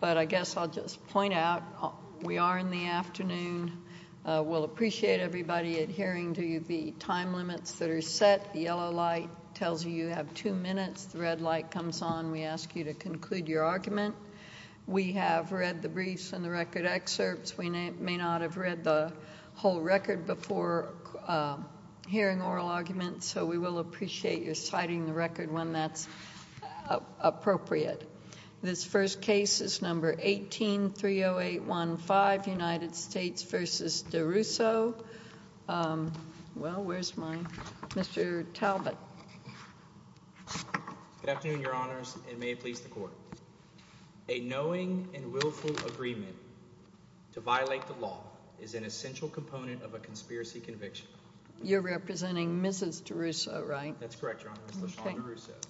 But I guess I'll just point out we are in the afternoon. We'll appreciate everybody adhering to the time limits that are set. The yellow light tells you you have two minutes. The red light comes on. We ask you to conclude your argument. We have read the briefs and the record excerpts. We may not have read the whole record before hearing oral arguments, so we will appreciate your citing the record when that's appropriate. This first case is No. 18-30815, United States v. Duruisseau. Well, where's my – Mr. Talbot. Good afternoon, Your Honors, and may it please the Court. A knowing and willful agreement to violate the law is an essential component of a conspiracy conviction. You're representing Mrs. Duruisseau, right? That's correct, Your Honors, LaShawn Duruisseau.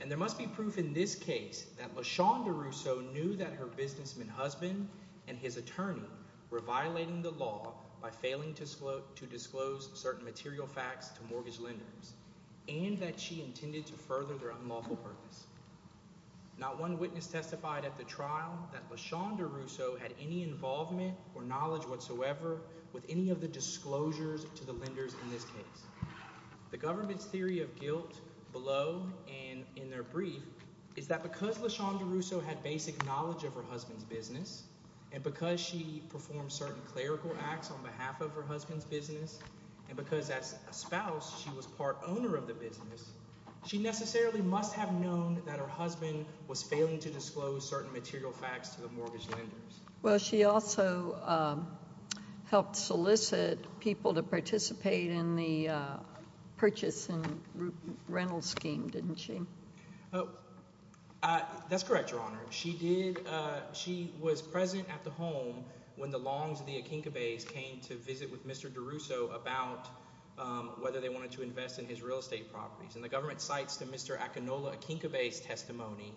And there must be proof in this case that LaShawn Duruisseau knew that her businessman husband and his attorney were violating the law by failing to disclose certain material facts to mortgage lenders and that she intended to further their unlawful purpose. Not one witness testified at the trial that LaShawn Duruisseau had any involvement or knowledge whatsoever with any of the disclosures to the lenders in this case. The government's theory of guilt below and in their brief is that because LaShawn Duruisseau had basic knowledge of her husband's business and because she performed certain clerical acts on behalf of her husband's business and because as a spouse she was part owner of the business, she necessarily must have known that her husband was failing to disclose certain material facts to the mortgage lenders. Well, she also helped solicit people to participate in the purchase and rental scheme, didn't she? That's correct, Your Honor. She did – she was present at the home when the Longs of the Akinkabes came to visit with Mr. Duruisseau about whether they wanted to invest in his real estate properties. And the government cites the Mr. Akinola Akinkabes testimony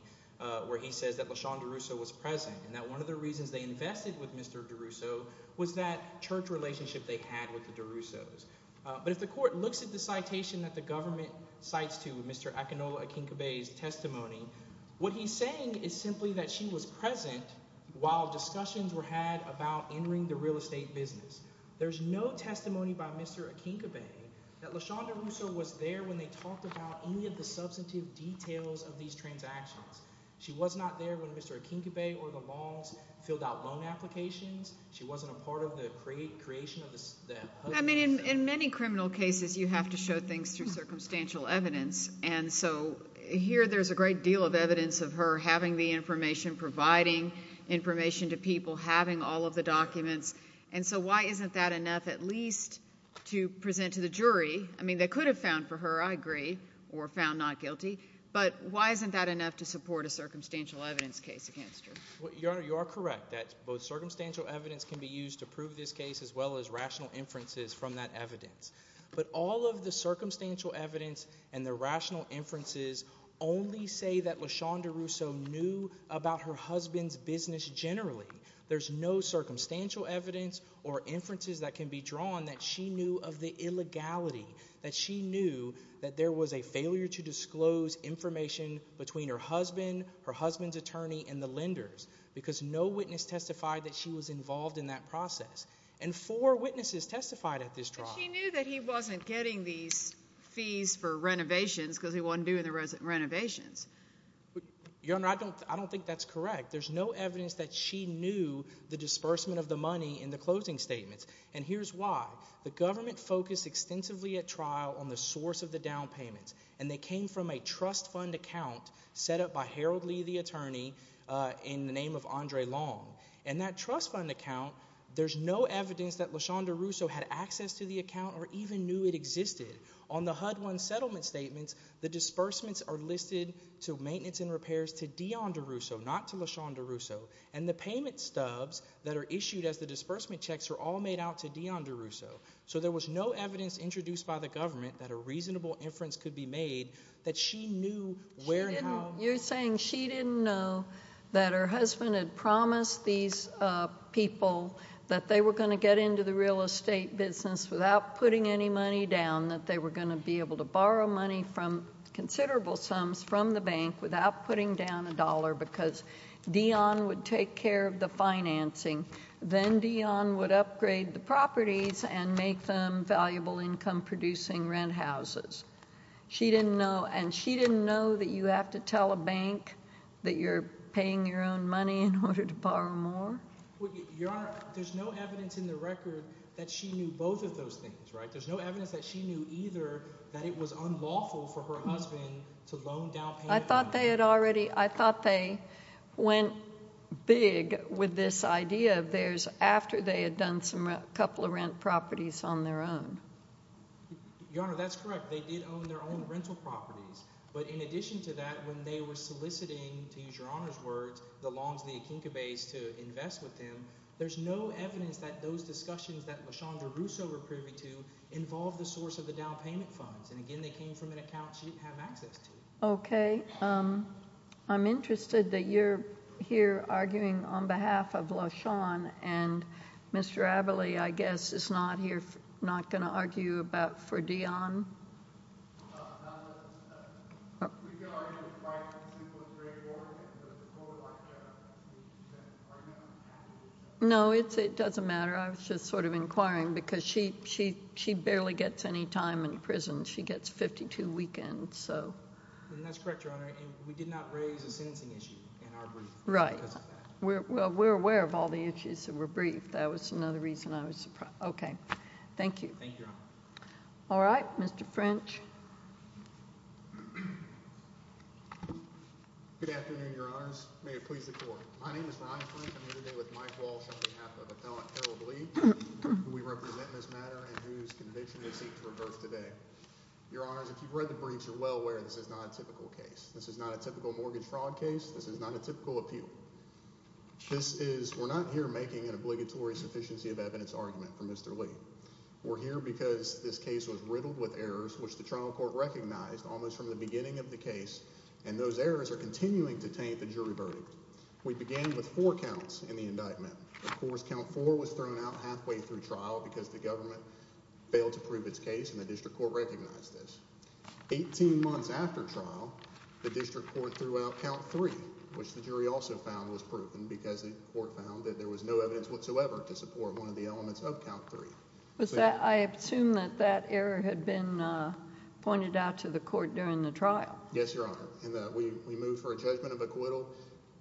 where he says that LaShawn Duruisseau was present and that one of the reasons they invested with Mr. Duruisseau was that church relationship they had with the Duruisseaus. But if the court looks at the citation that the government cites to Mr. Akinola Akinkabes' testimony, what he's saying is simply that she was present while discussions were had about entering the real estate business. There's no testimony by Mr. Akinkabes that LaShawn Duruisseau was there when they talked about any of the substantive details of these transactions. She was not there when Mr. Akinkabes or the Longs filled out loan applications. She wasn't a part of the creation of the – I mean, in many criminal cases you have to show things through circumstantial evidence. And so here there's a great deal of evidence of her having the information, providing information to people, having all of the documents. And so why isn't that enough at least to present to the jury? I mean, they could have found for her, I agree, or found not guilty. But why isn't that enough to support a circumstantial evidence case against her? Your Honor, you are correct that both circumstantial evidence can be used to prove this case as well as rational inferences from that evidence. But all of the circumstantial evidence and the rational inferences only say that LaShawn Duruisseau knew about her husband's business generally. There's no circumstantial evidence or inferences that can be drawn that she knew of the illegality, that she knew that there was a failure to disclose information between her husband, her husband's attorney, and the lenders because no witness testified that she was involved in that process. And four witnesses testified at this trial. But she knew that he wasn't getting these fees for renovations because he wasn't doing the renovations. Your Honor, I don't think that's correct. There's no evidence that she knew the disbursement of the money in the closing statements. And here's why. The government focused extensively at trial on the source of the down payments, and they came from a trust fund account set up by Harold Lee, the attorney, in the name of Andre Long. In that trust fund account, there's no evidence that LaShawn Duruisseau had access to the account or even knew it existed. On the HUD-1 settlement statements, the disbursements are listed to Maintenance and Repairs to Dion Duruisseau, not to LaShawn Duruisseau. And the payment stubs that are issued as the disbursement checks are all made out to Dion Duruisseau. So there was no evidence introduced by the government that a reasonable inference could be made that she knew where and how. You're saying she didn't know that her husband had promised these people that they were going to get into the real estate business without putting any money down, that they were going to be able to borrow money from considerable sums from the bank without putting down a dollar because Dion would take care of the financing. Then Dion would upgrade the properties and make them valuable income-producing rent houses. She didn't know, and she didn't know that you have to tell a bank that you're paying your own money in order to borrow more? Your Honor, there's no evidence in the record that she knew both of those things, right? There's no evidence that she knew either that it was unlawful for her husband to loan down payments. I thought they had already – I thought they went big with this idea of theirs after they had done a couple of rent properties on their own. Your Honor, that's correct. They did own their own rental properties. But in addition to that, when they were soliciting, to use Your Honor's words, the Longsley and Kinkabays to invest with them, there's no evidence that those discussions that LeChandra Duruisseau were privy to involved the source of the down payment funds. And again, they came from an account she didn't have access to. Okay. I'm interested that you're here arguing on behalf of LaShawn, and Mr. Averly, I guess, is not here – not going to argue about – for Dionne? No, it's – it doesn't matter. I was just sort of inquiring because she barely gets any time in prison. She gets 52 weekends, so. That's correct, Your Honor. And we did not raise a sentencing issue in our brief because of that. Right. Well, we're aware of all the issues that were briefed. That was another reason I was surprised. Okay. Thank you. Thank you, Your Honor. All right. Mr. French. Good afternoon, Your Honors. May it please the Court. My name is Ron French. I'm here today with Mike Walsh on behalf of Appellant Carol Lee, who we represent in this matter and whose conviction we seek to reverse today. Your Honors, if you've read the briefs, you're well aware this is not a typical case. This is not a typical mortgage fraud case. This is not a typical appeal. This is – we're not here making an obligatory sufficiency of evidence argument for Mr. Lee. We're here because this case was riddled with errors, which the trial court recognized almost from the beginning of the case, and those errors are continuing to taint the jury verdict. We began with four counts in the indictment. Of course, count four was thrown out halfway through trial because the government failed to prove its case, and the district court recognized this. Eighteen months after trial, the district court threw out count three, which the jury also found was proven because the court found that there was no evidence whatsoever to support one of the elements of count three. Was that – I assume that that error had been pointed out to the court during the trial. Yes, Your Honor. We moved for a judgment of acquittal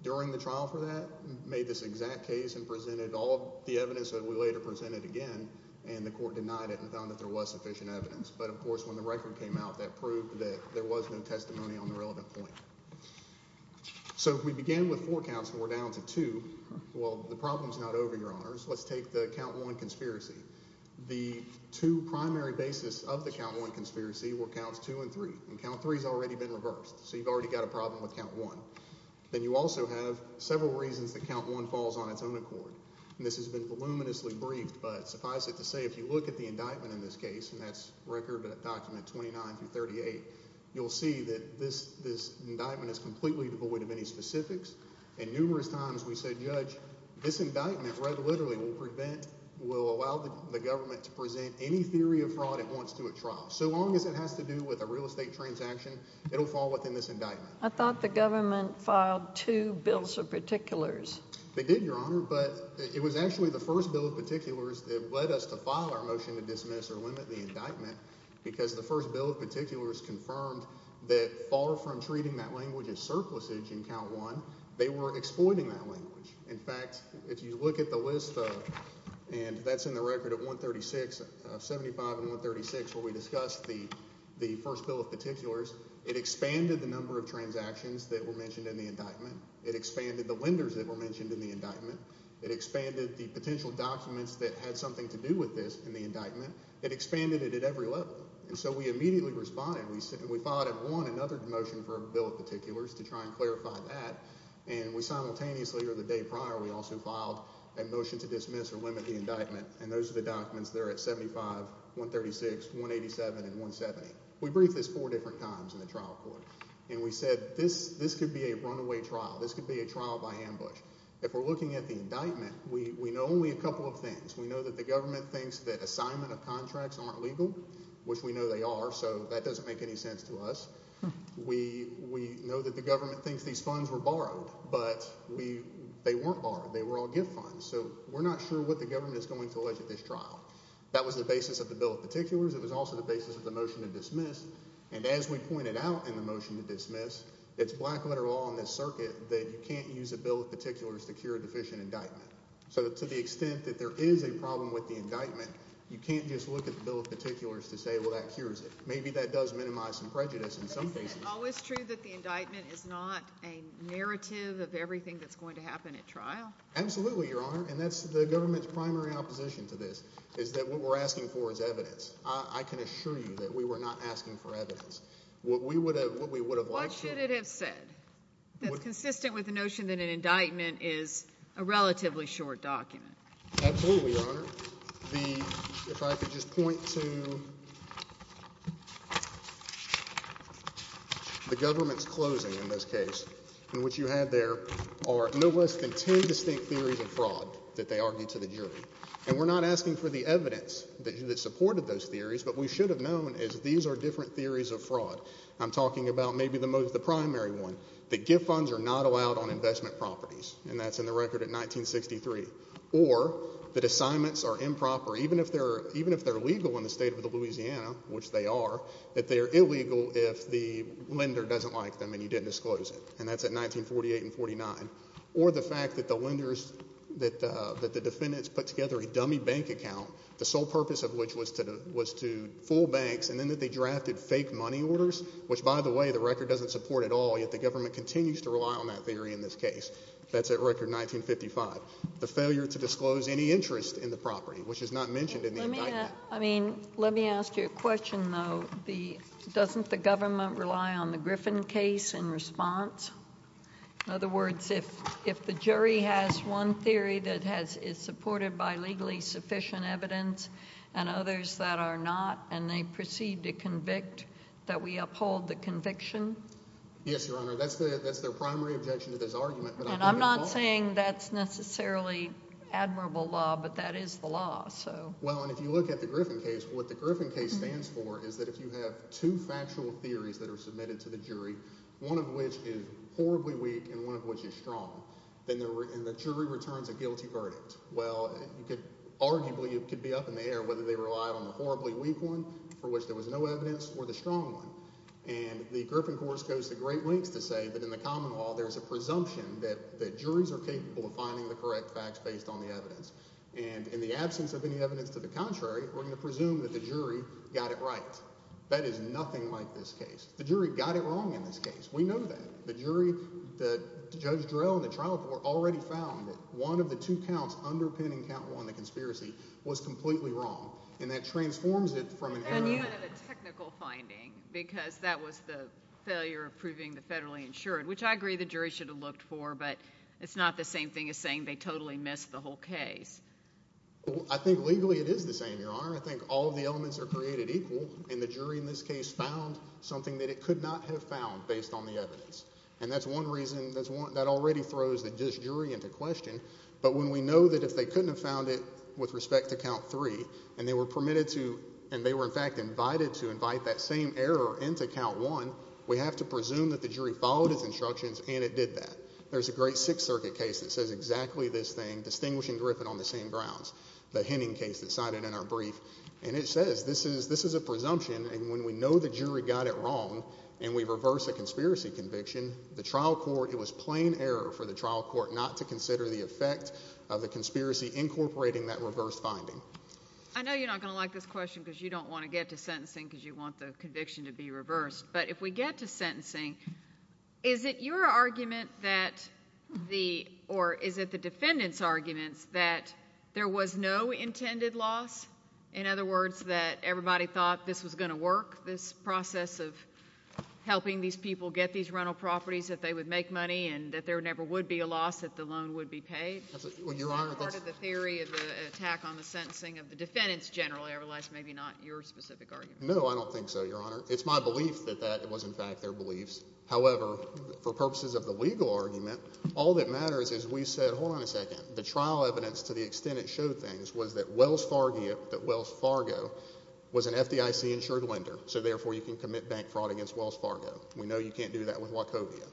during the trial for that, made this exact case, and presented all of the evidence that we later presented again, and the court denied it and found that there was sufficient evidence. But, of course, when the record came out, that proved that there was no testimony on the relevant point. So we began with four counts, and we're down to two. Well, the problem is not over, Your Honors. Let's take the count one conspiracy. The two primary basis of the count one conspiracy were counts two and three, and count three has already been reversed. So you've already got a problem with count one. Then you also have several reasons that count one falls on its own accord. And this has been voluminously briefed, but suffice it to say if you look at the indictment in this case, and that's record document 29 through 38, you'll see that this indictment is completely devoid of any specifics. And numerous times we said, Judge, this indictment, read literally, will prevent – will allow the government to present any theory of fraud it wants to at trial. So long as it has to do with a real estate transaction, it will fall within this indictment. I thought the government filed two bills of particulars. They did, Your Honor, but it was actually the first bill of particulars that led us to file our motion to dismiss or limit the indictment because the first bill of particulars confirmed that far from treating that language as surplusage in count one, they were exploiting that language. In fact, if you look at the list of – and that's in the record of 136, 75 and 136, where we discussed the first bill of particulars, it expanded the number of transactions that were mentioned in the indictment. It expanded the lenders that were mentioned in the indictment. It expanded the potential documents that had something to do with this in the indictment. It expanded it at every level. And so we immediately responded. We filed at one another motion for a bill of particulars to try and clarify that, and we simultaneously or the day prior we also filed a motion to dismiss or limit the indictment, and those are the documents there at 75, 136, 187 and 170. We briefed this four different times in the trial court, and we said this could be a runaway trial. This could be a trial by ambush. If we're looking at the indictment, we know only a couple of things. We know that the government thinks that assignment of contracts aren't legal, which we know they are, so that doesn't make any sense to us. We know that the government thinks these funds were borrowed, but they weren't borrowed. They were all gift funds. So we're not sure what the government is going to allege at this trial. That was the basis of the bill of particulars. It was also the basis of the motion to dismiss, and as we pointed out in the motion to dismiss, it's black-letter law in this circuit that you can't use a bill of particulars to cure a deficient indictment. So to the extent that there is a problem with the indictment, you can't just look at the bill of particulars to say, well, that cures it. Maybe that does minimize some prejudice in some cases. But isn't it always true that the indictment is not a narrative of everything that's going to happen at trial? Absolutely, Your Honor, and that's the government's primary opposition to this is that what we're asking for is evidence. I can assure you that we were not asking for evidence. What we would have liked to – That's consistent with the notion that an indictment is a relatively short document. Absolutely, Your Honor. If I could just point to the government's closing in this case, in which you had there are no less than 10 distinct theories of fraud that they argued to the jury. And we're not asking for the evidence that supported those theories, but we should have known is these are different theories of fraud. I'm talking about maybe the most – the primary one, that gift funds are not allowed on investment properties. And that's in the record at 1963. Or that assignments are improper, even if they're legal in the state of Louisiana, which they are, that they are illegal if the lender doesn't like them and you didn't disclose it. And that's at 1948 and 1949. Or the fact that the lenders – that the defendants put together a dummy bank account, the sole purpose of which was to fool banks, and then that they drafted fake money orders, which, by the way, the record doesn't support at all. Yet the government continues to rely on that theory in this case. That's at record 1955. The failure to disclose any interest in the property, which is not mentioned in the indictment. Let me ask you a question, though. Doesn't the government rely on the Griffin case in response? In other words, if the jury has one theory that is supported by legally sufficient evidence and others that are not, and they proceed to convict, that we uphold the conviction? Yes, Your Honor. That's their primary objection to this argument. And I'm not saying that's necessarily admirable law, but that is the law. Well, and if you look at the Griffin case, what the Griffin case stands for is that if you have two factual theories that are submitted to the jury, one of which is horribly weak and one of which is strong, then the jury returns a guilty verdict. Well, arguably it could be up in the air whether they relied on the horribly weak one for which there was no evidence or the strong one. And the Griffin course goes to great lengths to say that in the common law there's a presumption that juries are capable of finding the correct facts based on the evidence. And in the absence of any evidence to the contrary, we're going to presume that the jury got it right. That is nothing like this case. The jury got it wrong in this case. We know that. The jury, Judge Durell and the trial court already found that one of the two counts underpinning count one, the conspiracy, was completely wrong. And that transforms it from an error. And you had a technical finding because that was the failure of proving the federally insured, which I agree the jury should have looked for. But it's not the same thing as saying they totally missed the whole case. I think legally it is the same, Your Honor. I think all of the elements are created equal. And the jury in this case found something that it could not have found based on the evidence. And that's one reason that already throws the jury into question. But when we know that if they couldn't have found it with respect to count three and they were permitted to and they were in fact invited to invite that same error into count one, we have to presume that the jury followed its instructions and it did that. There's a great Sixth Circuit case that says exactly this thing, distinguishing Griffin on the same grounds, the Henning case that's cited in our brief. And it says this is a presumption. And when we know the jury got it wrong and we reverse a conspiracy conviction, the trial court, it was plain error for the trial court not to consider the effect of the conspiracy incorporating that reverse finding. I know you're not going to like this question because you don't want to get to sentencing because you want the conviction to be reversed. But if we get to sentencing, is it your argument that the or is it the defendant's arguments that there was no intended loss? In other words, that everybody thought this was going to work, this process of helping these people get these rental properties, that they would make money and that there never would be a loss, that the loan would be paid? Your Honor, that's. Is that part of the theory of the attack on the sentencing of the defendants generally? Otherwise, maybe not your specific argument. No, I don't think so, Your Honor. It's my belief that that was, in fact, their beliefs. However, for purposes of the legal argument, all that matters is we said, hold on a second, the trial evidence to the extent it showed things was that Wells Fargo was an FDIC insured lender. So, therefore, you can commit bank fraud against Wells Fargo. We know you can't do that with Wachovia.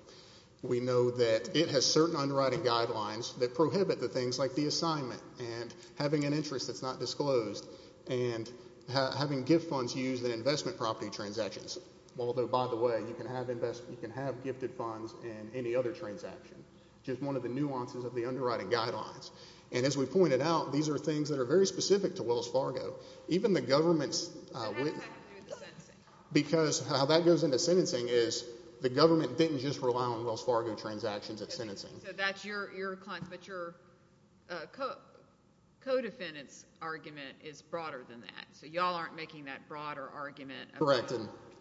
We know that it has certain underwriting guidelines that prohibit the things like the assignment and having an interest that's not disclosed and having gift funds used in investment property transactions. Although, by the way, you can have gifted funds in any other transaction. Just one of the nuances of the underwriting guidelines. And as we pointed out, these are things that are very specific to Wells Fargo. It has to do with the sentencing. Because how that goes into sentencing is the government didn't just rely on Wells Fargo transactions at sentencing. So, that's your client. But your co-defendant's argument is broader than that. So, y'all aren't making that broader argument. Correct.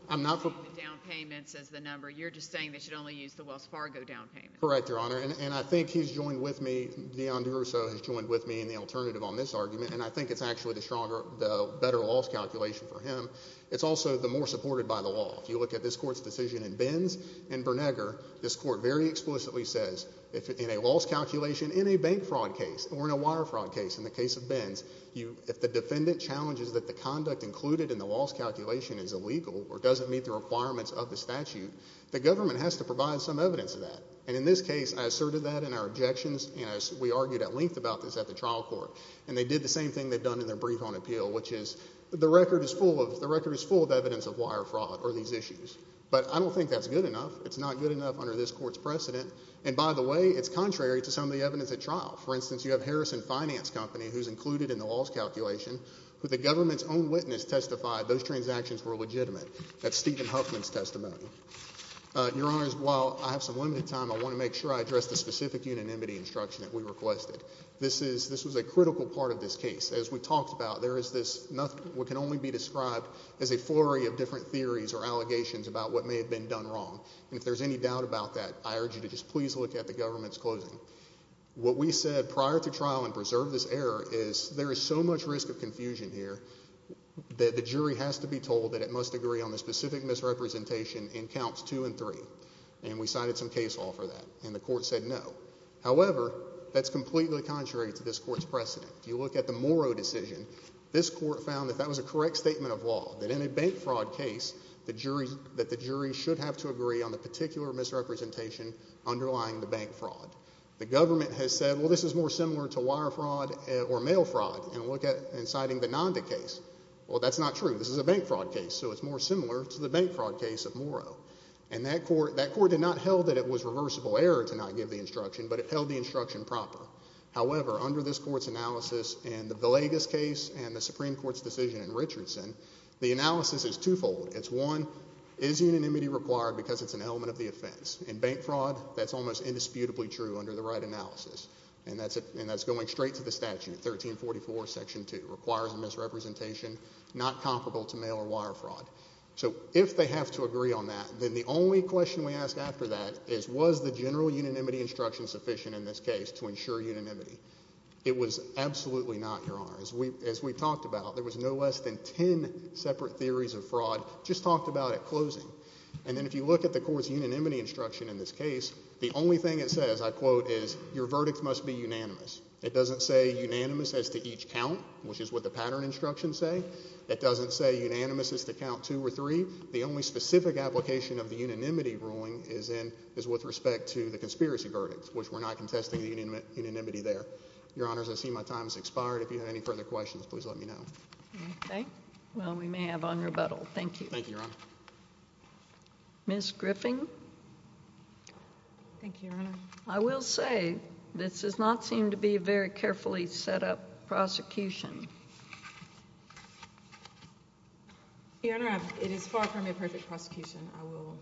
I'm not. The down payments is the number. You're just saying they should only use the Wells Fargo down payments. Correct, Your Honor. And I think he's joined with me, Dion DeRusso has joined with me in the alternative on this argument. And I think it's actually the better loss calculation for him. It's also the more supported by the law. If you look at this court's decision in Benz and Bernegar, this court very explicitly says, in a loss calculation in a bank fraud case or in a wire fraud case, in the case of Benz, if the defendant challenges that the conduct included in the loss calculation is illegal or doesn't meet the requirements of the statute, the government has to provide some evidence of that. And in this case, I asserted that in our objections. And we argued at length about this at the trial court. And they did the same thing they'd done in their brief on appeal, which is the record is full of evidence of wire fraud or these issues. But I don't think that's good enough. It's not good enough under this court's precedent. And, by the way, it's contrary to some of the evidence at trial. For instance, you have Harrison Finance Company, who's included in the loss calculation, who the government's own witness testified those transactions were legitimate. That's Stephen Huffman's testimony. Your Honors, while I have some limited time, I want to make sure I address the specific unanimity instruction that we requested. This was a critical part of this case. As we talked about, there is this what can only be described as a flurry of different theories or allegations about what may have been done wrong. And if there's any doubt about that, I urge you to just please look at the government's closing. What we said prior to trial and preserve this error is there is so much risk of confusion here that the jury has to be told that it must agree on the specific misrepresentation in counts two and three. And we cited some case law for that. And the court said no. However, that's completely contrary to this court's precedent. If you look at the Morrow decision, this court found that that was a correct statement of law, that in a bank fraud case that the jury should have to agree on the particular misrepresentation underlying the bank fraud. The government has said, well, this is more similar to wire fraud or mail fraud. And look at, in citing the Nanda case, well, that's not true. This is a bank fraud case, so it's more similar to the bank fraud case of Morrow. And that court did not hold that it was reversible error to not give the instruction, but it held the instruction proper. However, under this court's analysis in the Villegas case and the Supreme Court's decision in Richardson, the analysis is twofold. It's, one, is unanimity required because it's an element of the offense? In bank fraud, that's almost indisputably true under the right analysis. And that's going straight to the statute, 1344, Section 2, requires a misrepresentation not comparable to mail or wire fraud. So if they have to agree on that, then the only question we ask after that is was the general unanimity instruction sufficient in this case to ensure unanimity? It was absolutely not, Your Honor. As we talked about, there was no less than ten separate theories of fraud just talked about at closing. And then if you look at the court's unanimity instruction in this case, the only thing it says, I quote, is your verdict must be unanimous. It doesn't say unanimous as to each count, which is what the pattern instructions say. It doesn't say unanimous as to count two or three. The only specific application of the unanimity ruling is with respect to the conspiracy verdict, which we're not contesting the unanimity there. Your Honors, I see my time has expired. If you have any further questions, please let me know. Okay. Well, we may have on rebuttal. Thank you. Thank you, Your Honor. Ms. Griffin? Thank you, Your Honor. I will say this does not seem to be a very carefully set up prosecution. Your Honor, it is far from a perfect prosecution. I will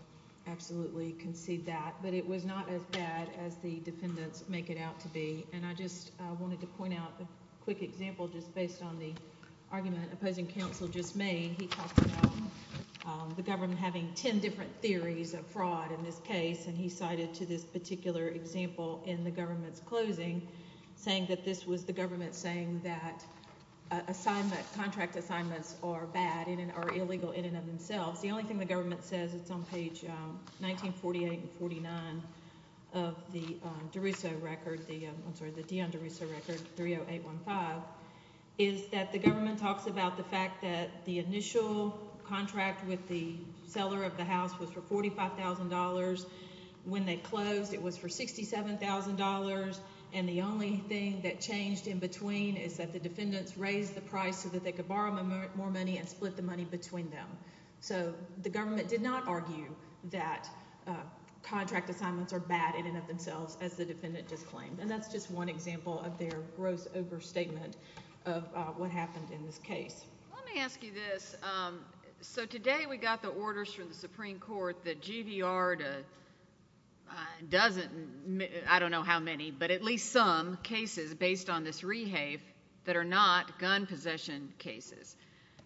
absolutely concede that. But it was not as bad as the defendants make it out to be. And I just wanted to point out a quick example just based on the argument opposing counsel just made. He talked about the government having ten different theories of fraud in this case. And he cited to this particular example in the government's closing saying that this was the government saying that assignment, contract assignments are bad and are illegal in and of themselves. The only thing the government says, it's on page 1948 and 49 of the DeRusso record, I'm sorry, the Dion DeRusso record, 30815, is that the government talks about the fact that the initial contract with the seller of the house was for $45,000. When they closed, it was for $67,000. And the only thing that changed in between is that the defendants raised the price so that they could borrow more money and split the money between them. So the government did not argue that contract assignments are bad in and of themselves as the defendant just claimed. And that's just one example of their gross overstatement of what happened in this case. Let me ask you this. So today we got the orders from the Supreme Court that GVR doesn't, I don't know how many, but at least some cases based on this rehave that are not gun possession cases.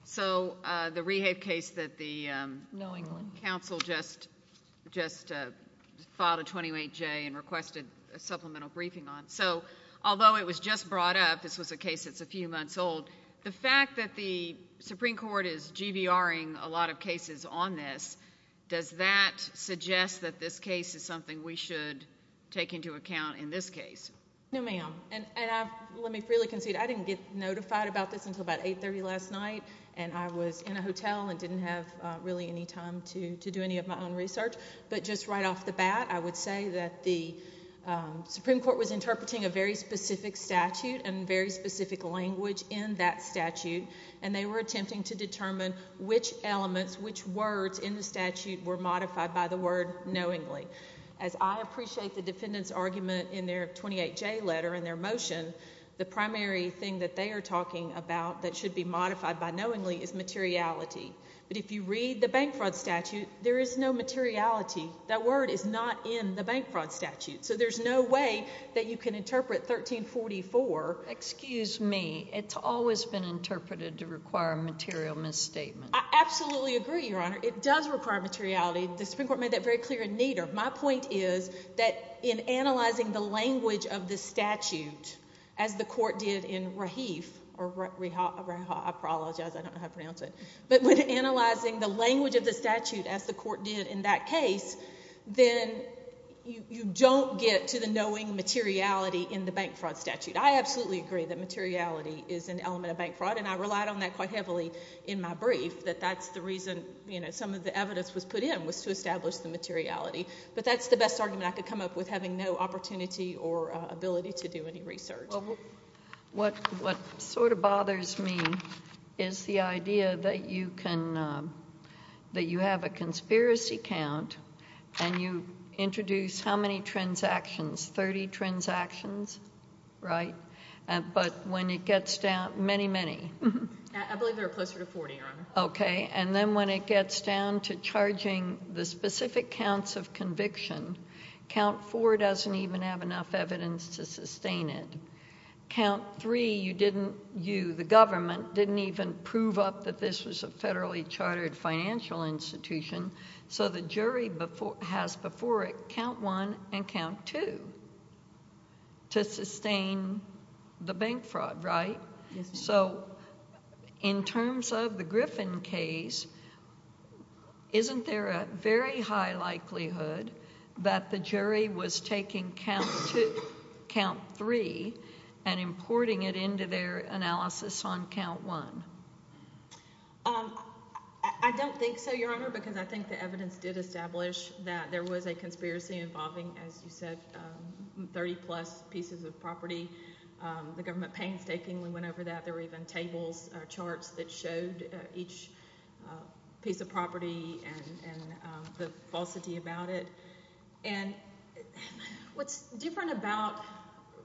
So the rehave case that the counsel just filed a 28J and requested a supplemental briefing on. So although it was just brought up, this was a case that's a few months old, the fact that the Supreme Court is GVRing a lot of cases on this, does that suggest that this case is something we should take into account in this case? No, ma'am. And let me freely concede, I didn't get notified about this until about 8.30 last night, and I was in a hotel and didn't have really any time to do any of my own research. But just right off the bat, I would say that the Supreme Court was interpreting a very specific statute and very specific language in that statute. And they were attempting to determine which elements, which words in the statute were modified by the word knowingly. As I appreciate the defendant's argument in their 28J letter and their motion, the primary thing that they are talking about that should be modified by knowingly is materiality. But if you read the bank fraud statute, there is no materiality. That word is not in the bank fraud statute. So there's no way that you can interpret 1344. Excuse me. It's always been interpreted to require a material misstatement. I absolutely agree, Your Honor. It does require materiality. The Supreme Court made that very clear in Nader. My point is that in analyzing the language of the statute as the court did in Rahif, or Rahaf, I apologize, I don't know how to pronounce it. But when analyzing the language of the statute as the court did in that case, then you don't get to the knowing materiality in the bank fraud statute. I absolutely agree that materiality is an element of bank fraud, and I relied on that quite heavily in my brief, that that's the reason some of the evidence was put in, was to establish the materiality. But that's the best argument I could come up with, having no opportunity or ability to do any research. What sort of bothers me is the idea that you have a conspiracy count and you introduce how many transactions, 30 transactions, right? But when it gets down, many, many. I believe there are closer to 40, Your Honor. Okay. And then when it gets down to charging the specific counts of conviction, count four doesn't even have enough evidence to sustain it. Count three, you didn't, you, the government, didn't even prove up that this was a federally chartered financial institution, so the jury has before it count one and count two to sustain the bank fraud, right? Yes. So in terms of the Griffin case, isn't there a very high likelihood that the jury was taking count two, count three, and importing it into their analysis on count one? I don't think so, Your Honor, because I think the evidence did establish that there was a conspiracy involving, as you said, 30-plus pieces of property. The government painstakingly went over that. There were even tables or charts that showed each piece of property and the falsity about it. And what's different about,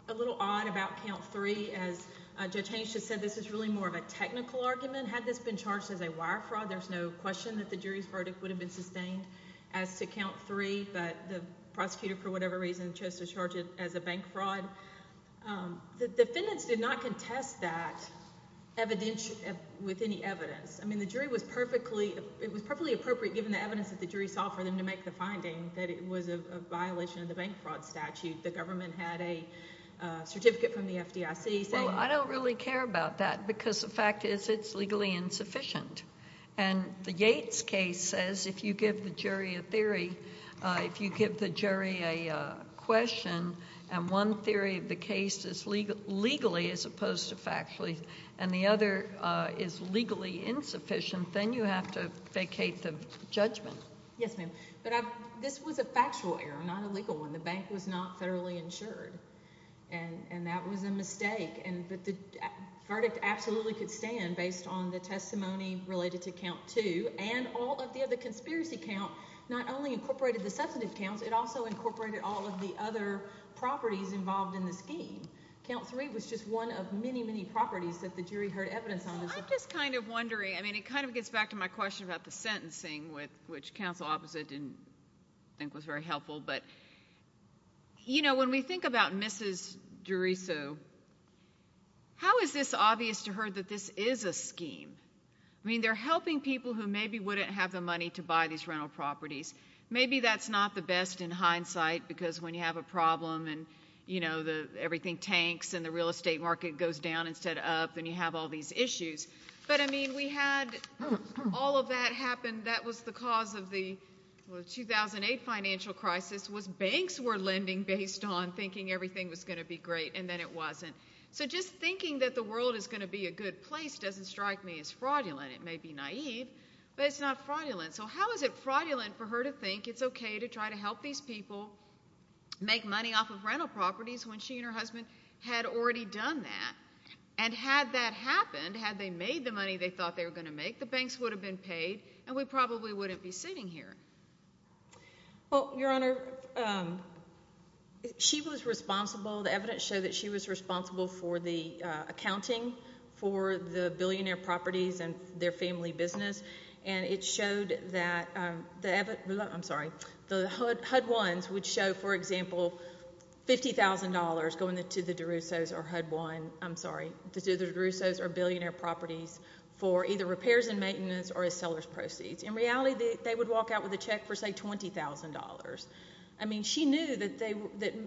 a little odd about count three, as Judge Haynes just said, this is really more of a technical argument. Had this been charged as a wire fraud, there's no question that the jury's verdict would have been sustained as to count three, but the prosecutor, for whatever reason, chose to charge it as a bank fraud. The defendants did not contest that with any evidence. I mean, the jury was perfectly, it was perfectly appropriate, given the evidence that the jury saw, for them to make the finding that it was a violation of the bank fraud statute. The government had a certificate from the FDIC saying- Well, I don't really care about that because the fact is it's legally insufficient. And the Yates case says if you give the jury a theory, if you give the jury a question, and one theory of the case is legally as opposed to factually, and the other is legally insufficient, then you have to vacate the judgment. Yes, ma'am. But this was a factual error, not a legal one. The bank was not federally insured, and that was a mistake. But the verdict absolutely could stand based on the testimony related to count two, and all of the other conspiracy counts not only incorporated the substantive counts, it also incorporated all of the other properties involved in the scheme. Count three was just one of many, many properties that the jury heard evidence on. I'm just kind of wondering. I mean, it kind of gets back to my question about the sentencing, which counsel opposite didn't think was very helpful. But, you know, when we think about Mrs. Deriso, how is this obvious to her that this is a scheme? I mean, they're helping people who maybe wouldn't have the money to buy these rental properties. Maybe that's not the best in hindsight because when you have a problem and, you know, everything tanks and the real estate market goes down instead of up and you have all these issues. But, I mean, we had all of that happen. That was the cause of the 2008 financial crisis was banks were lending based on thinking everything was going to be great, and then it wasn't. So just thinking that the world is going to be a good place doesn't strike me as fraudulent. It may be naive, but it's not fraudulent. So how is it fraudulent for her to think it's okay to try to help these people make money off of rental properties when she and her husband had already done that? And had that happened, had they made the money they thought they were going to make, the banks would have been paid and we probably wouldn't be sitting here. Well, Your Honor, she was responsible. The evidence showed that she was responsible for the accounting for the billionaire properties and their family business, and it showed that the HUD-1s would show, for example, $50,000 going to the DeRussos or HUD-1, I'm sorry, to the DeRussos or billionaire properties for either repairs and maintenance or as seller's proceeds. In reality, they would walk out with a check for, say, $20,000. I mean, she knew that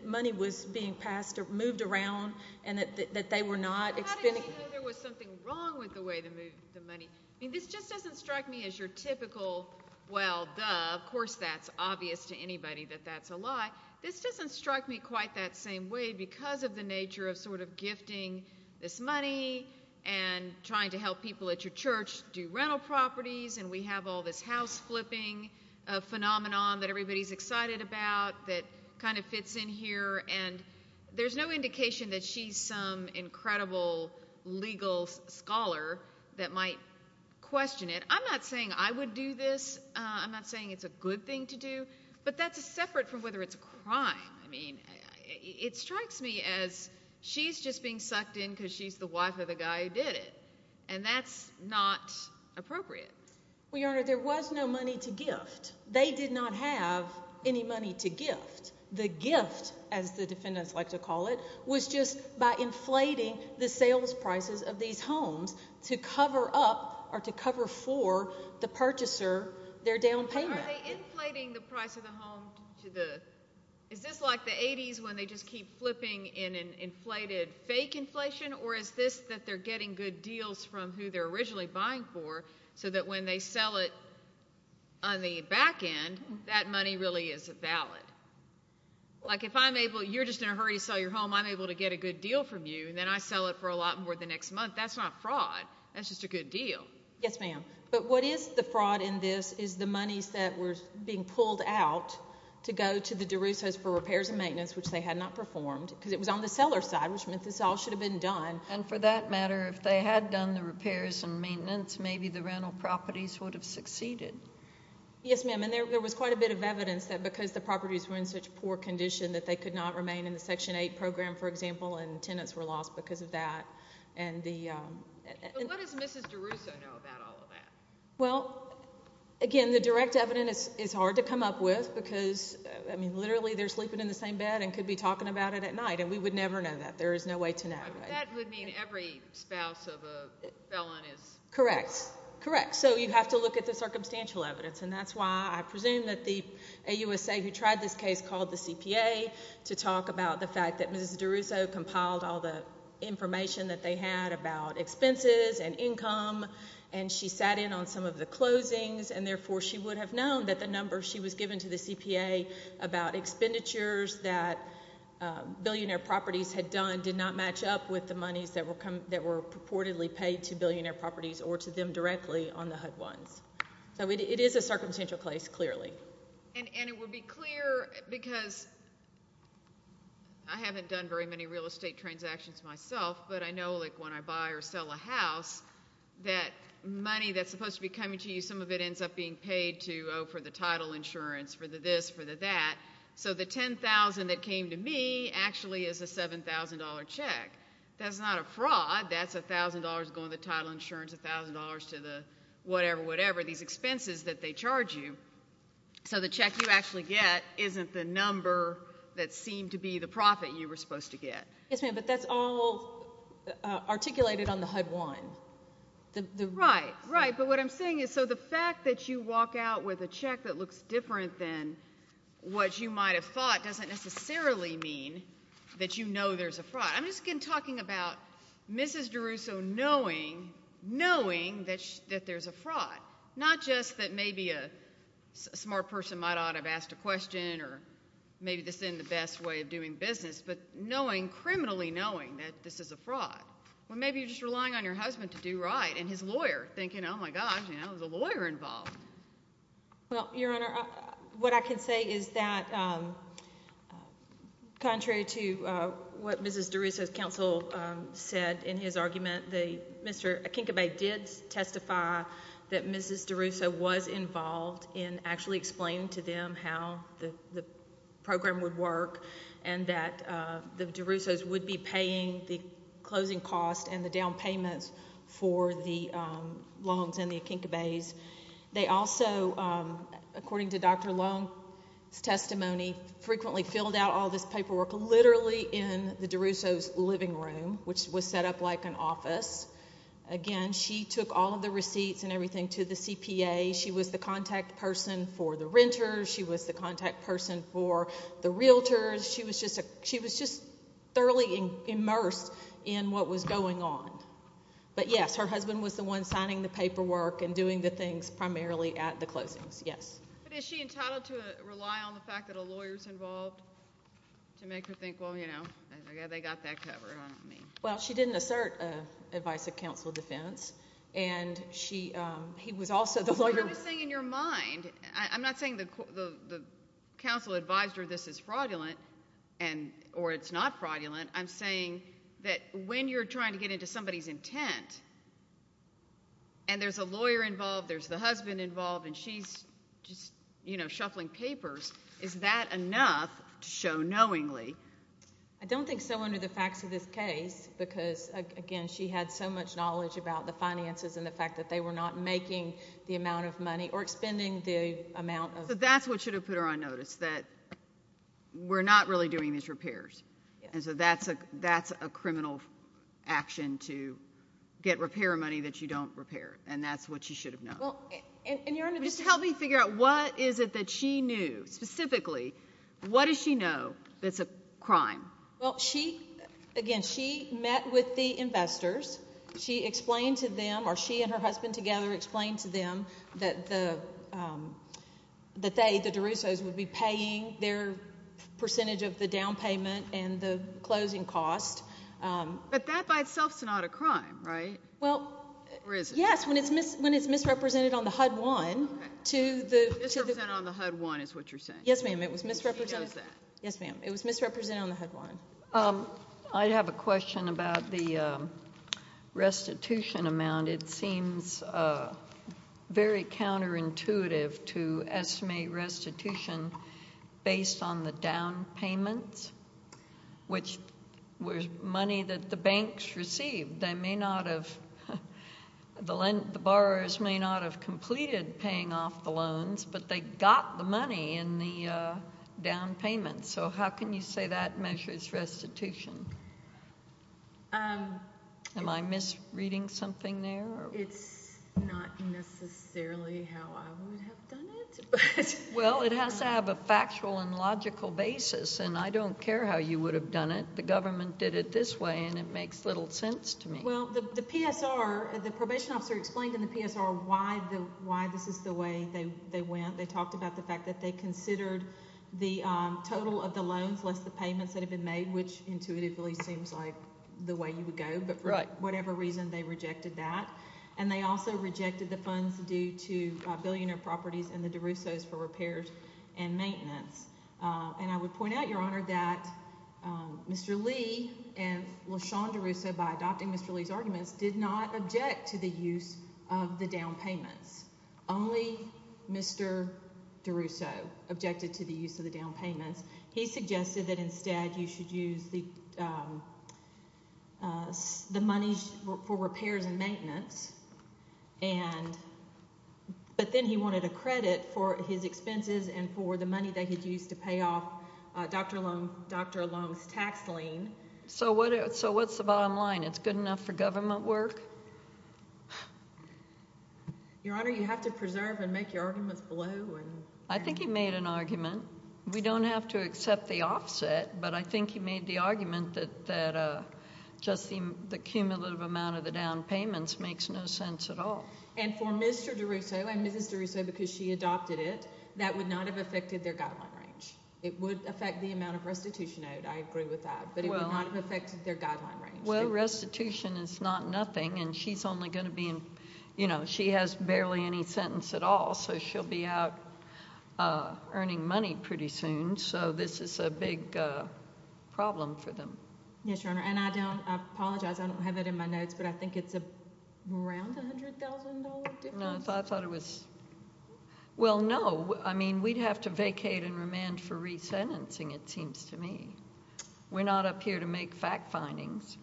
money was being passed or moved around and that they were not expending it. How do you know there was something wrong with the way they moved the money? I mean, this just doesn't strike me as your typical, well, duh, of course that's obvious to anybody that that's a lie. This doesn't strike me quite that same way because of the nature of sort of gifting this money and trying to help people at your church do rental properties, and we have all this house-flipping phenomenon that everybody's excited about that kind of fits in here, and there's no indication that she's some incredible legal scholar that might question it. I'm not saying I would do this. I'm not saying it's a good thing to do, but that's separate from whether it's a crime. I mean, it strikes me as she's just being sucked in because she's the wife of the guy who did it, and that's not appropriate. Well, Your Honor, there was no money to gift. They did not have any money to gift. The gift, as the defendants like to call it, was just by inflating the sales prices of these homes to cover up or to cover for the purchaser their down payment. Are they inflating the price of the home? Is this like the 80s when they just keep flipping in an inflated fake inflation, or is this that they're getting good deals from who they're originally buying for so that when they sell it on the back end, that money really is valid? Like if you're just in a hurry to sell your home, I'm able to get a good deal from you, and then I sell it for a lot more the next month, that's not fraud. That's just a good deal. Yes, ma'am. But what is the fraud in this is the monies that were being pulled out to go to the DeRussos for repairs and maintenance, which they had not performed, because it was on the seller's side, which meant this all should have been done. And for that matter, if they had done the repairs and maintenance, maybe the rental properties would have succeeded. Yes, ma'am, and there was quite a bit of evidence that because the properties were in such poor condition that they could not remain in the Section 8 program, for example, and tenants were lost because of that. What does Mrs. DeRusso know about all of that? Well, again, the direct evidence is hard to come up with because, I mean, literally they're sleeping in the same bed and could be talking about it at night, and we would never know that. There is no way to know. That would mean every spouse of a felon is... Correct, correct. So you have to look at the circumstantial evidence, and that's why I presume that the AUSA who tried this case called the CPA to talk about the fact that Mrs. DeRusso compiled all the information that they had about expenses and income, and she sat in on some of the closings, and therefore she would have known that the number she was given to the CPA about expenditures that billionaire properties had done did not match up with the monies that were purportedly paid to billionaire properties or to them directly on the HUD ones. So it is a circumstantial case, clearly. And it would be clear because I haven't done very many real estate transactions myself, but I know, like, when I buy or sell a house, that money that's supposed to be coming to you, some of it ends up being paid to, oh, for the title insurance, for the this, for the that. So the $10,000 that came to me actually is a $7,000 check. That's not a fraud. That's $1,000 going to the title insurance, $1,000 to the whatever, whatever, these expenses that they charge you. So the check you actually get isn't the number that seemed to be the profit you were supposed to get. Yes, ma'am, but that's all articulated on the HUD one. Right, right. But what I'm saying is so the fact that you walk out with a check that looks different than what you might have thought doesn't necessarily mean that you know there's a fraud. I'm just again talking about Mrs. DeRusso knowing, knowing that there's a fraud, not just that maybe a smart person might ought to have asked a question or maybe this isn't the best way of doing business, but knowing, criminally knowing that this is a fraud. Well, maybe you're just relying on your husband to do right and his lawyer thinking, oh, my gosh, now there's a lawyer involved. Well, Your Honor, what I can say is that contrary to what Mrs. DeRusso's counsel said in his argument, Mr. Akinkabay did testify that Mrs. DeRusso was involved in actually explaining to them how the program would work and that the DeRussos would be paying the closing costs and the down payments for the Longs and the Akinkabays. They also, according to Dr. Long's testimony, frequently filled out all this paperwork literally in the DeRusso's living room, which was set up like an office. Again, she took all of the receipts and everything to the CPA. She was the contact person for the renters. She was the contact person for the realtors. She was just thoroughly immersed in what was going on. But, yes, her husband was the one signing the paperwork and doing the things primarily at the closings, yes. But is she entitled to rely on the fact that a lawyer is involved to make her think, well, you know, they got that covered, I don't know what you mean. Well, she didn't assert advice of counsel of defense, and he was also the lawyer. What I'm saying in your mind, I'm not saying the counsel advised her this is fraudulent or it's not fraudulent. I'm saying that when you're trying to get into somebody's intent and there's a lawyer involved, there's the husband involved, and she's just, you know, shuffling papers, is that enough to show knowingly? I don't think so under the facts of this case because, again, she had so much knowledge about the finances and the fact that they were not making the amount of money or expending the amount of money. So that's what should have put her on notice, that we're not really doing these repairs. And so that's a criminal action to get repair money that you don't repair, and that's what she should have known. Just help me figure out what is it that she knew. Specifically, what does she know that's a crime? Well, again, she met with the investors. She explained to them, or she and her husband together explained to them, that they, the DeRussos, would be paying their percentage of the down payment and the closing cost. But that by itself is not a crime, right? Well, yes, when it's misrepresented on the HUD-1. Misrepresented on the HUD-1 is what you're saying? Yes, ma'am, it was misrepresented on the HUD-1. I have a question about the restitution amount. It seems very counterintuitive to estimate restitution based on the down payments, which was money that the banks received. They may not have, the borrowers may not have completed paying off the loans, but they got the money in the down payments. So how can you say that measures restitution? Am I misreading something there? It's not necessarily how I would have done it. Well, it has to have a factual and logical basis, and I don't care how you would have done it. The government did it this way, and it makes little sense to me. Well, the PSR, the probation officer explained in the PSR why this is the way they went. They talked about the fact that they considered the total of the loans, less the payments that had been made, which intuitively seems like the way you would go. But for whatever reason, they rejected that. And they also rejected the funds due to billionaire properties and the DeRussos for repairs and maintenance. And I would point out, Your Honor, that Mr. Lee and LaShawn DeRusso, by adopting Mr. Lee's arguments, did not object to the use of the down payments. Only Mr. DeRusso objected to the use of the down payments. He suggested that instead you should use the money for repairs and maintenance. But then he wanted a credit for his expenses and for the money that he used to pay off Dr. Long's tax lien. So what's the bottom line? It's good enough for government work? Your Honor, you have to preserve and make your arguments below. I think he made an argument. We don't have to accept the offset, but I think he made the argument that just the cumulative amount of the down payments makes no sense at all. And for Mr. DeRusso and Mrs. DeRusso, because she adopted it, that would not have affected their guideline range. It would affect the amount of restitution owed. I agree with that. But it would not have affected their guideline range. Well, restitution is not nothing, and she's only going to be in, you know, she has barely any sentence at all. So she'll be out earning money pretty soon. So this is a big problem for them. Yes, Your Honor. And I don't apologize. I don't have it in my notes, but I think it's around $100,000 difference. No, I thought it was. Well, no. I mean, we'd have to vacate and remand for resentencing, it seems to me. We're not up here to make fact findings.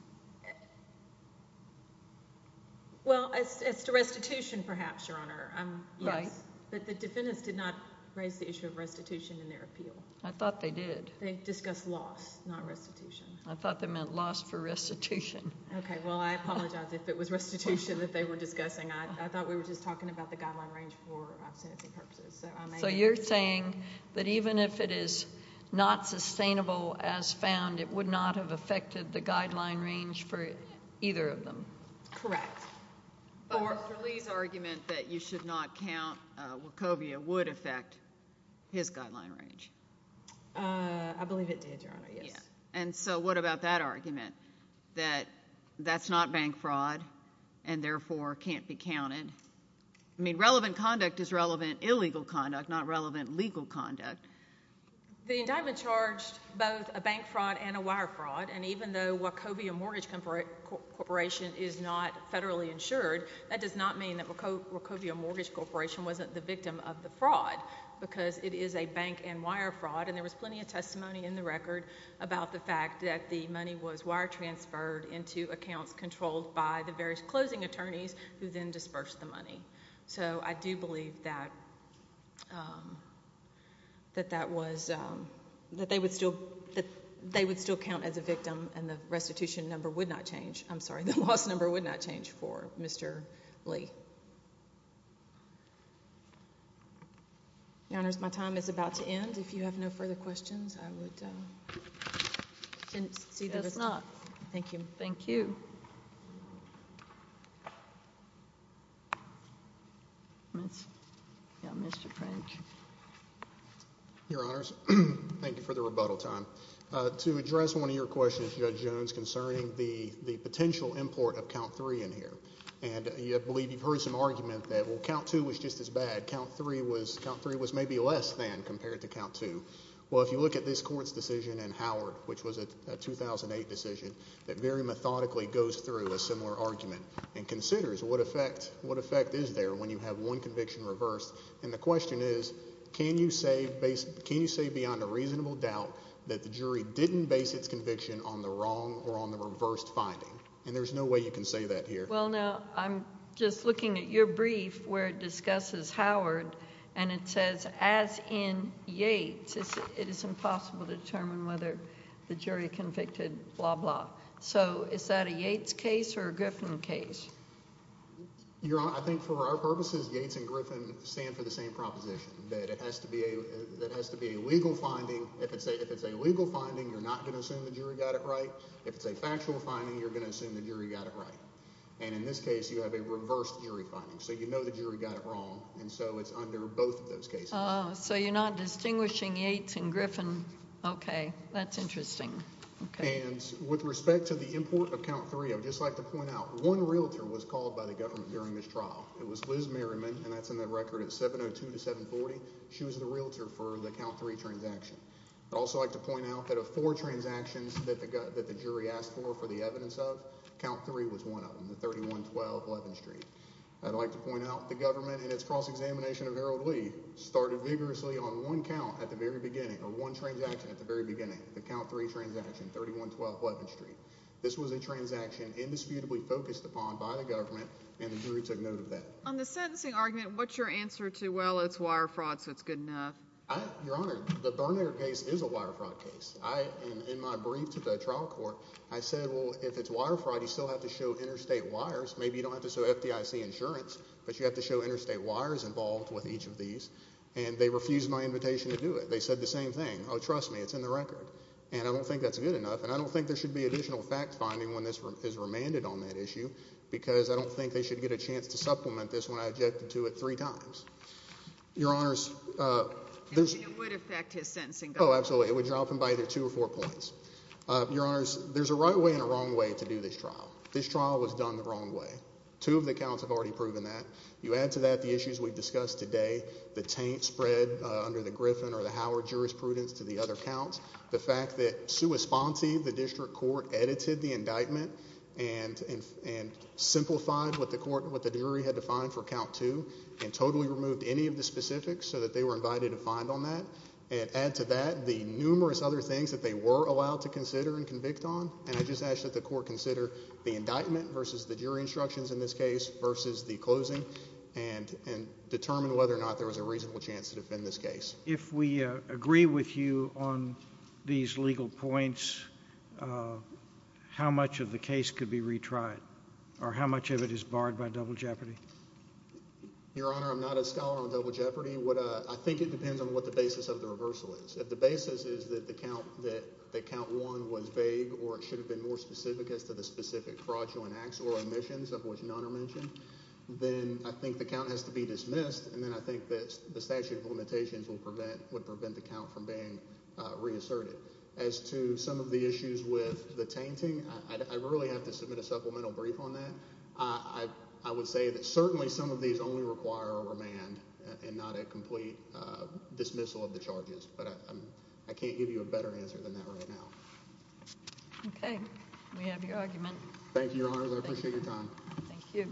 Well, as to restitution, perhaps, Your Honor. Right. But the defendants did not raise the issue of restitution in their appeal. I thought they did. They discussed loss, not restitution. I thought they meant loss for restitution. Okay, well, I apologize if it was restitution that they were discussing. I thought we were just talking about the guideline range for sentencing purposes. So you're saying that even if it is not sustainable as found, it would not have affected the guideline range for either of them? Correct. But Mr. Lee's argument that you should not count Wachovia would affect his guideline range. I believe it did, Your Honor, yes. And so what about that argument, that that's not bank fraud and, therefore, can't be counted? I mean, relevant conduct is relevant illegal conduct, not relevant legal conduct. The indictment charged both a bank fraud and a wire fraud, and even though Wachovia Mortgage Corporation is not federally insured, that does not mean that Wachovia Mortgage Corporation wasn't the victim of the fraud because it is a bank and wire fraud, and there was plenty of testimony in the record about the fact that the money was wire transferred into accounts controlled by the various closing attorneys who then dispersed the money. So I do believe that they would still count as a victim and the restitution number would not change. I'm sorry, the loss number would not change for Mr. Lee. Your Honors, my time is about to end. If you have no further questions, I would see to it. Thank you. Thank you. Your Honors, thank you for the rebuttal time. To address one of your questions, Judge Jones, concerning the potential import of count three in here, and I believe you've heard some argument that, well, count two was just as bad, count three was maybe less than compared to count two. Well, if you look at this Court's decision in Howard, which was a 2008 decision, that very methodically goes through a similar argument and considers what effect is there when you have one conviction reversed, and the question is can you say beyond a reasonable doubt that the jury didn't base its conviction on the wrong or on the reversed finding, and there's no way you can say that here. Well, now, I'm just looking at your brief where it discusses Howard, and it says, as in Yates, it is impossible to determine whether the jury convicted blah, blah. So is that a Yates case or a Griffin case? Your Honor, I think for our purposes, Yates and Griffin stand for the same proposition, that it has to be a legal finding. If it's a legal finding, you're not going to assume the jury got it right. If it's a factual finding, you're going to assume the jury got it right, and in this case you have a reversed jury finding, so you know the jury got it wrong, and so it's under both of those cases. Oh, so you're not distinguishing Yates and Griffin. Okay, that's interesting. And with respect to the import of count three, I would just like to point out one realtor was called by the government during this trial. It was Liz Merriman, and that's in the record at 702 to 740. She was the realtor for the count three transaction. I'd also like to point out that of four transactions that the jury asked for for the evidence of, count three was one of them, the 3112 11th Street. I'd like to point out the government, in its cross-examination of Harold Lee, started vigorously on one count at the very beginning, or one transaction at the very beginning, the count three transaction, 3112 11th Street. This was a transaction indisputably focused upon by the government, and the jury took note of that. On the sentencing argument, what's your answer to, well, it's wire fraud, so it's good enough? Your Honor, the Bernier case is a wire fraud case. In my brief to the trial court, I said, well, if it's wire fraud, you still have to show interstate wires. Maybe you don't have to show FDIC insurance, but you have to show interstate wires involved with each of these, and they refused my invitation to do it. They said the same thing, oh, trust me, it's in the record, and I don't think that's good enough, and I don't think there should be additional fact-finding when this is remanded on that issue because I don't think they should get a chance to supplement this when I objected to it three times. Your Honors, there's... It would affect his sentencing. Oh, absolutely. It would drop him by either two or four points. Your Honors, there's a right way and a wrong way to do this trial. This trial was done the wrong way. Two of the counts have already proven that. You add to that the issues we've discussed today, the taint spread under the Griffin or the Howard jurisprudence to the other counts, the fact that sua sponte, the district court, edited the indictment and simplified what the jury had defined for count two and totally removed any of the specifics so that they were invited to find on that, and add to that the numerous other things that they were allowed to consider and convict on, and I just ask that the court consider the indictment versus the jury instructions in this case versus the closing and determine whether or not there was a reasonable chance to defend this case. If we agree with you on these legal points, how much of the case could be retried, or how much of it is barred by double jeopardy? Your Honor, I'm not a scholar on double jeopardy. I think it depends on what the basis of the reversal is. If the basis is that count one was vague or it should have been more specific as to the specific fraudulent acts or omissions of which none are mentioned, then I think the count has to be dismissed, and then I think that the statute of limitations would prevent the count from being reasserted. As to some of the issues with the tainting, I really have to submit a supplemental brief on that. I would say that certainly some of these only require a remand and not a complete dismissal of the charges, but I can't give you a better answer than that right now. Okay. We have your argument. Thank you, Your Honor. I appreciate your time. Thank you.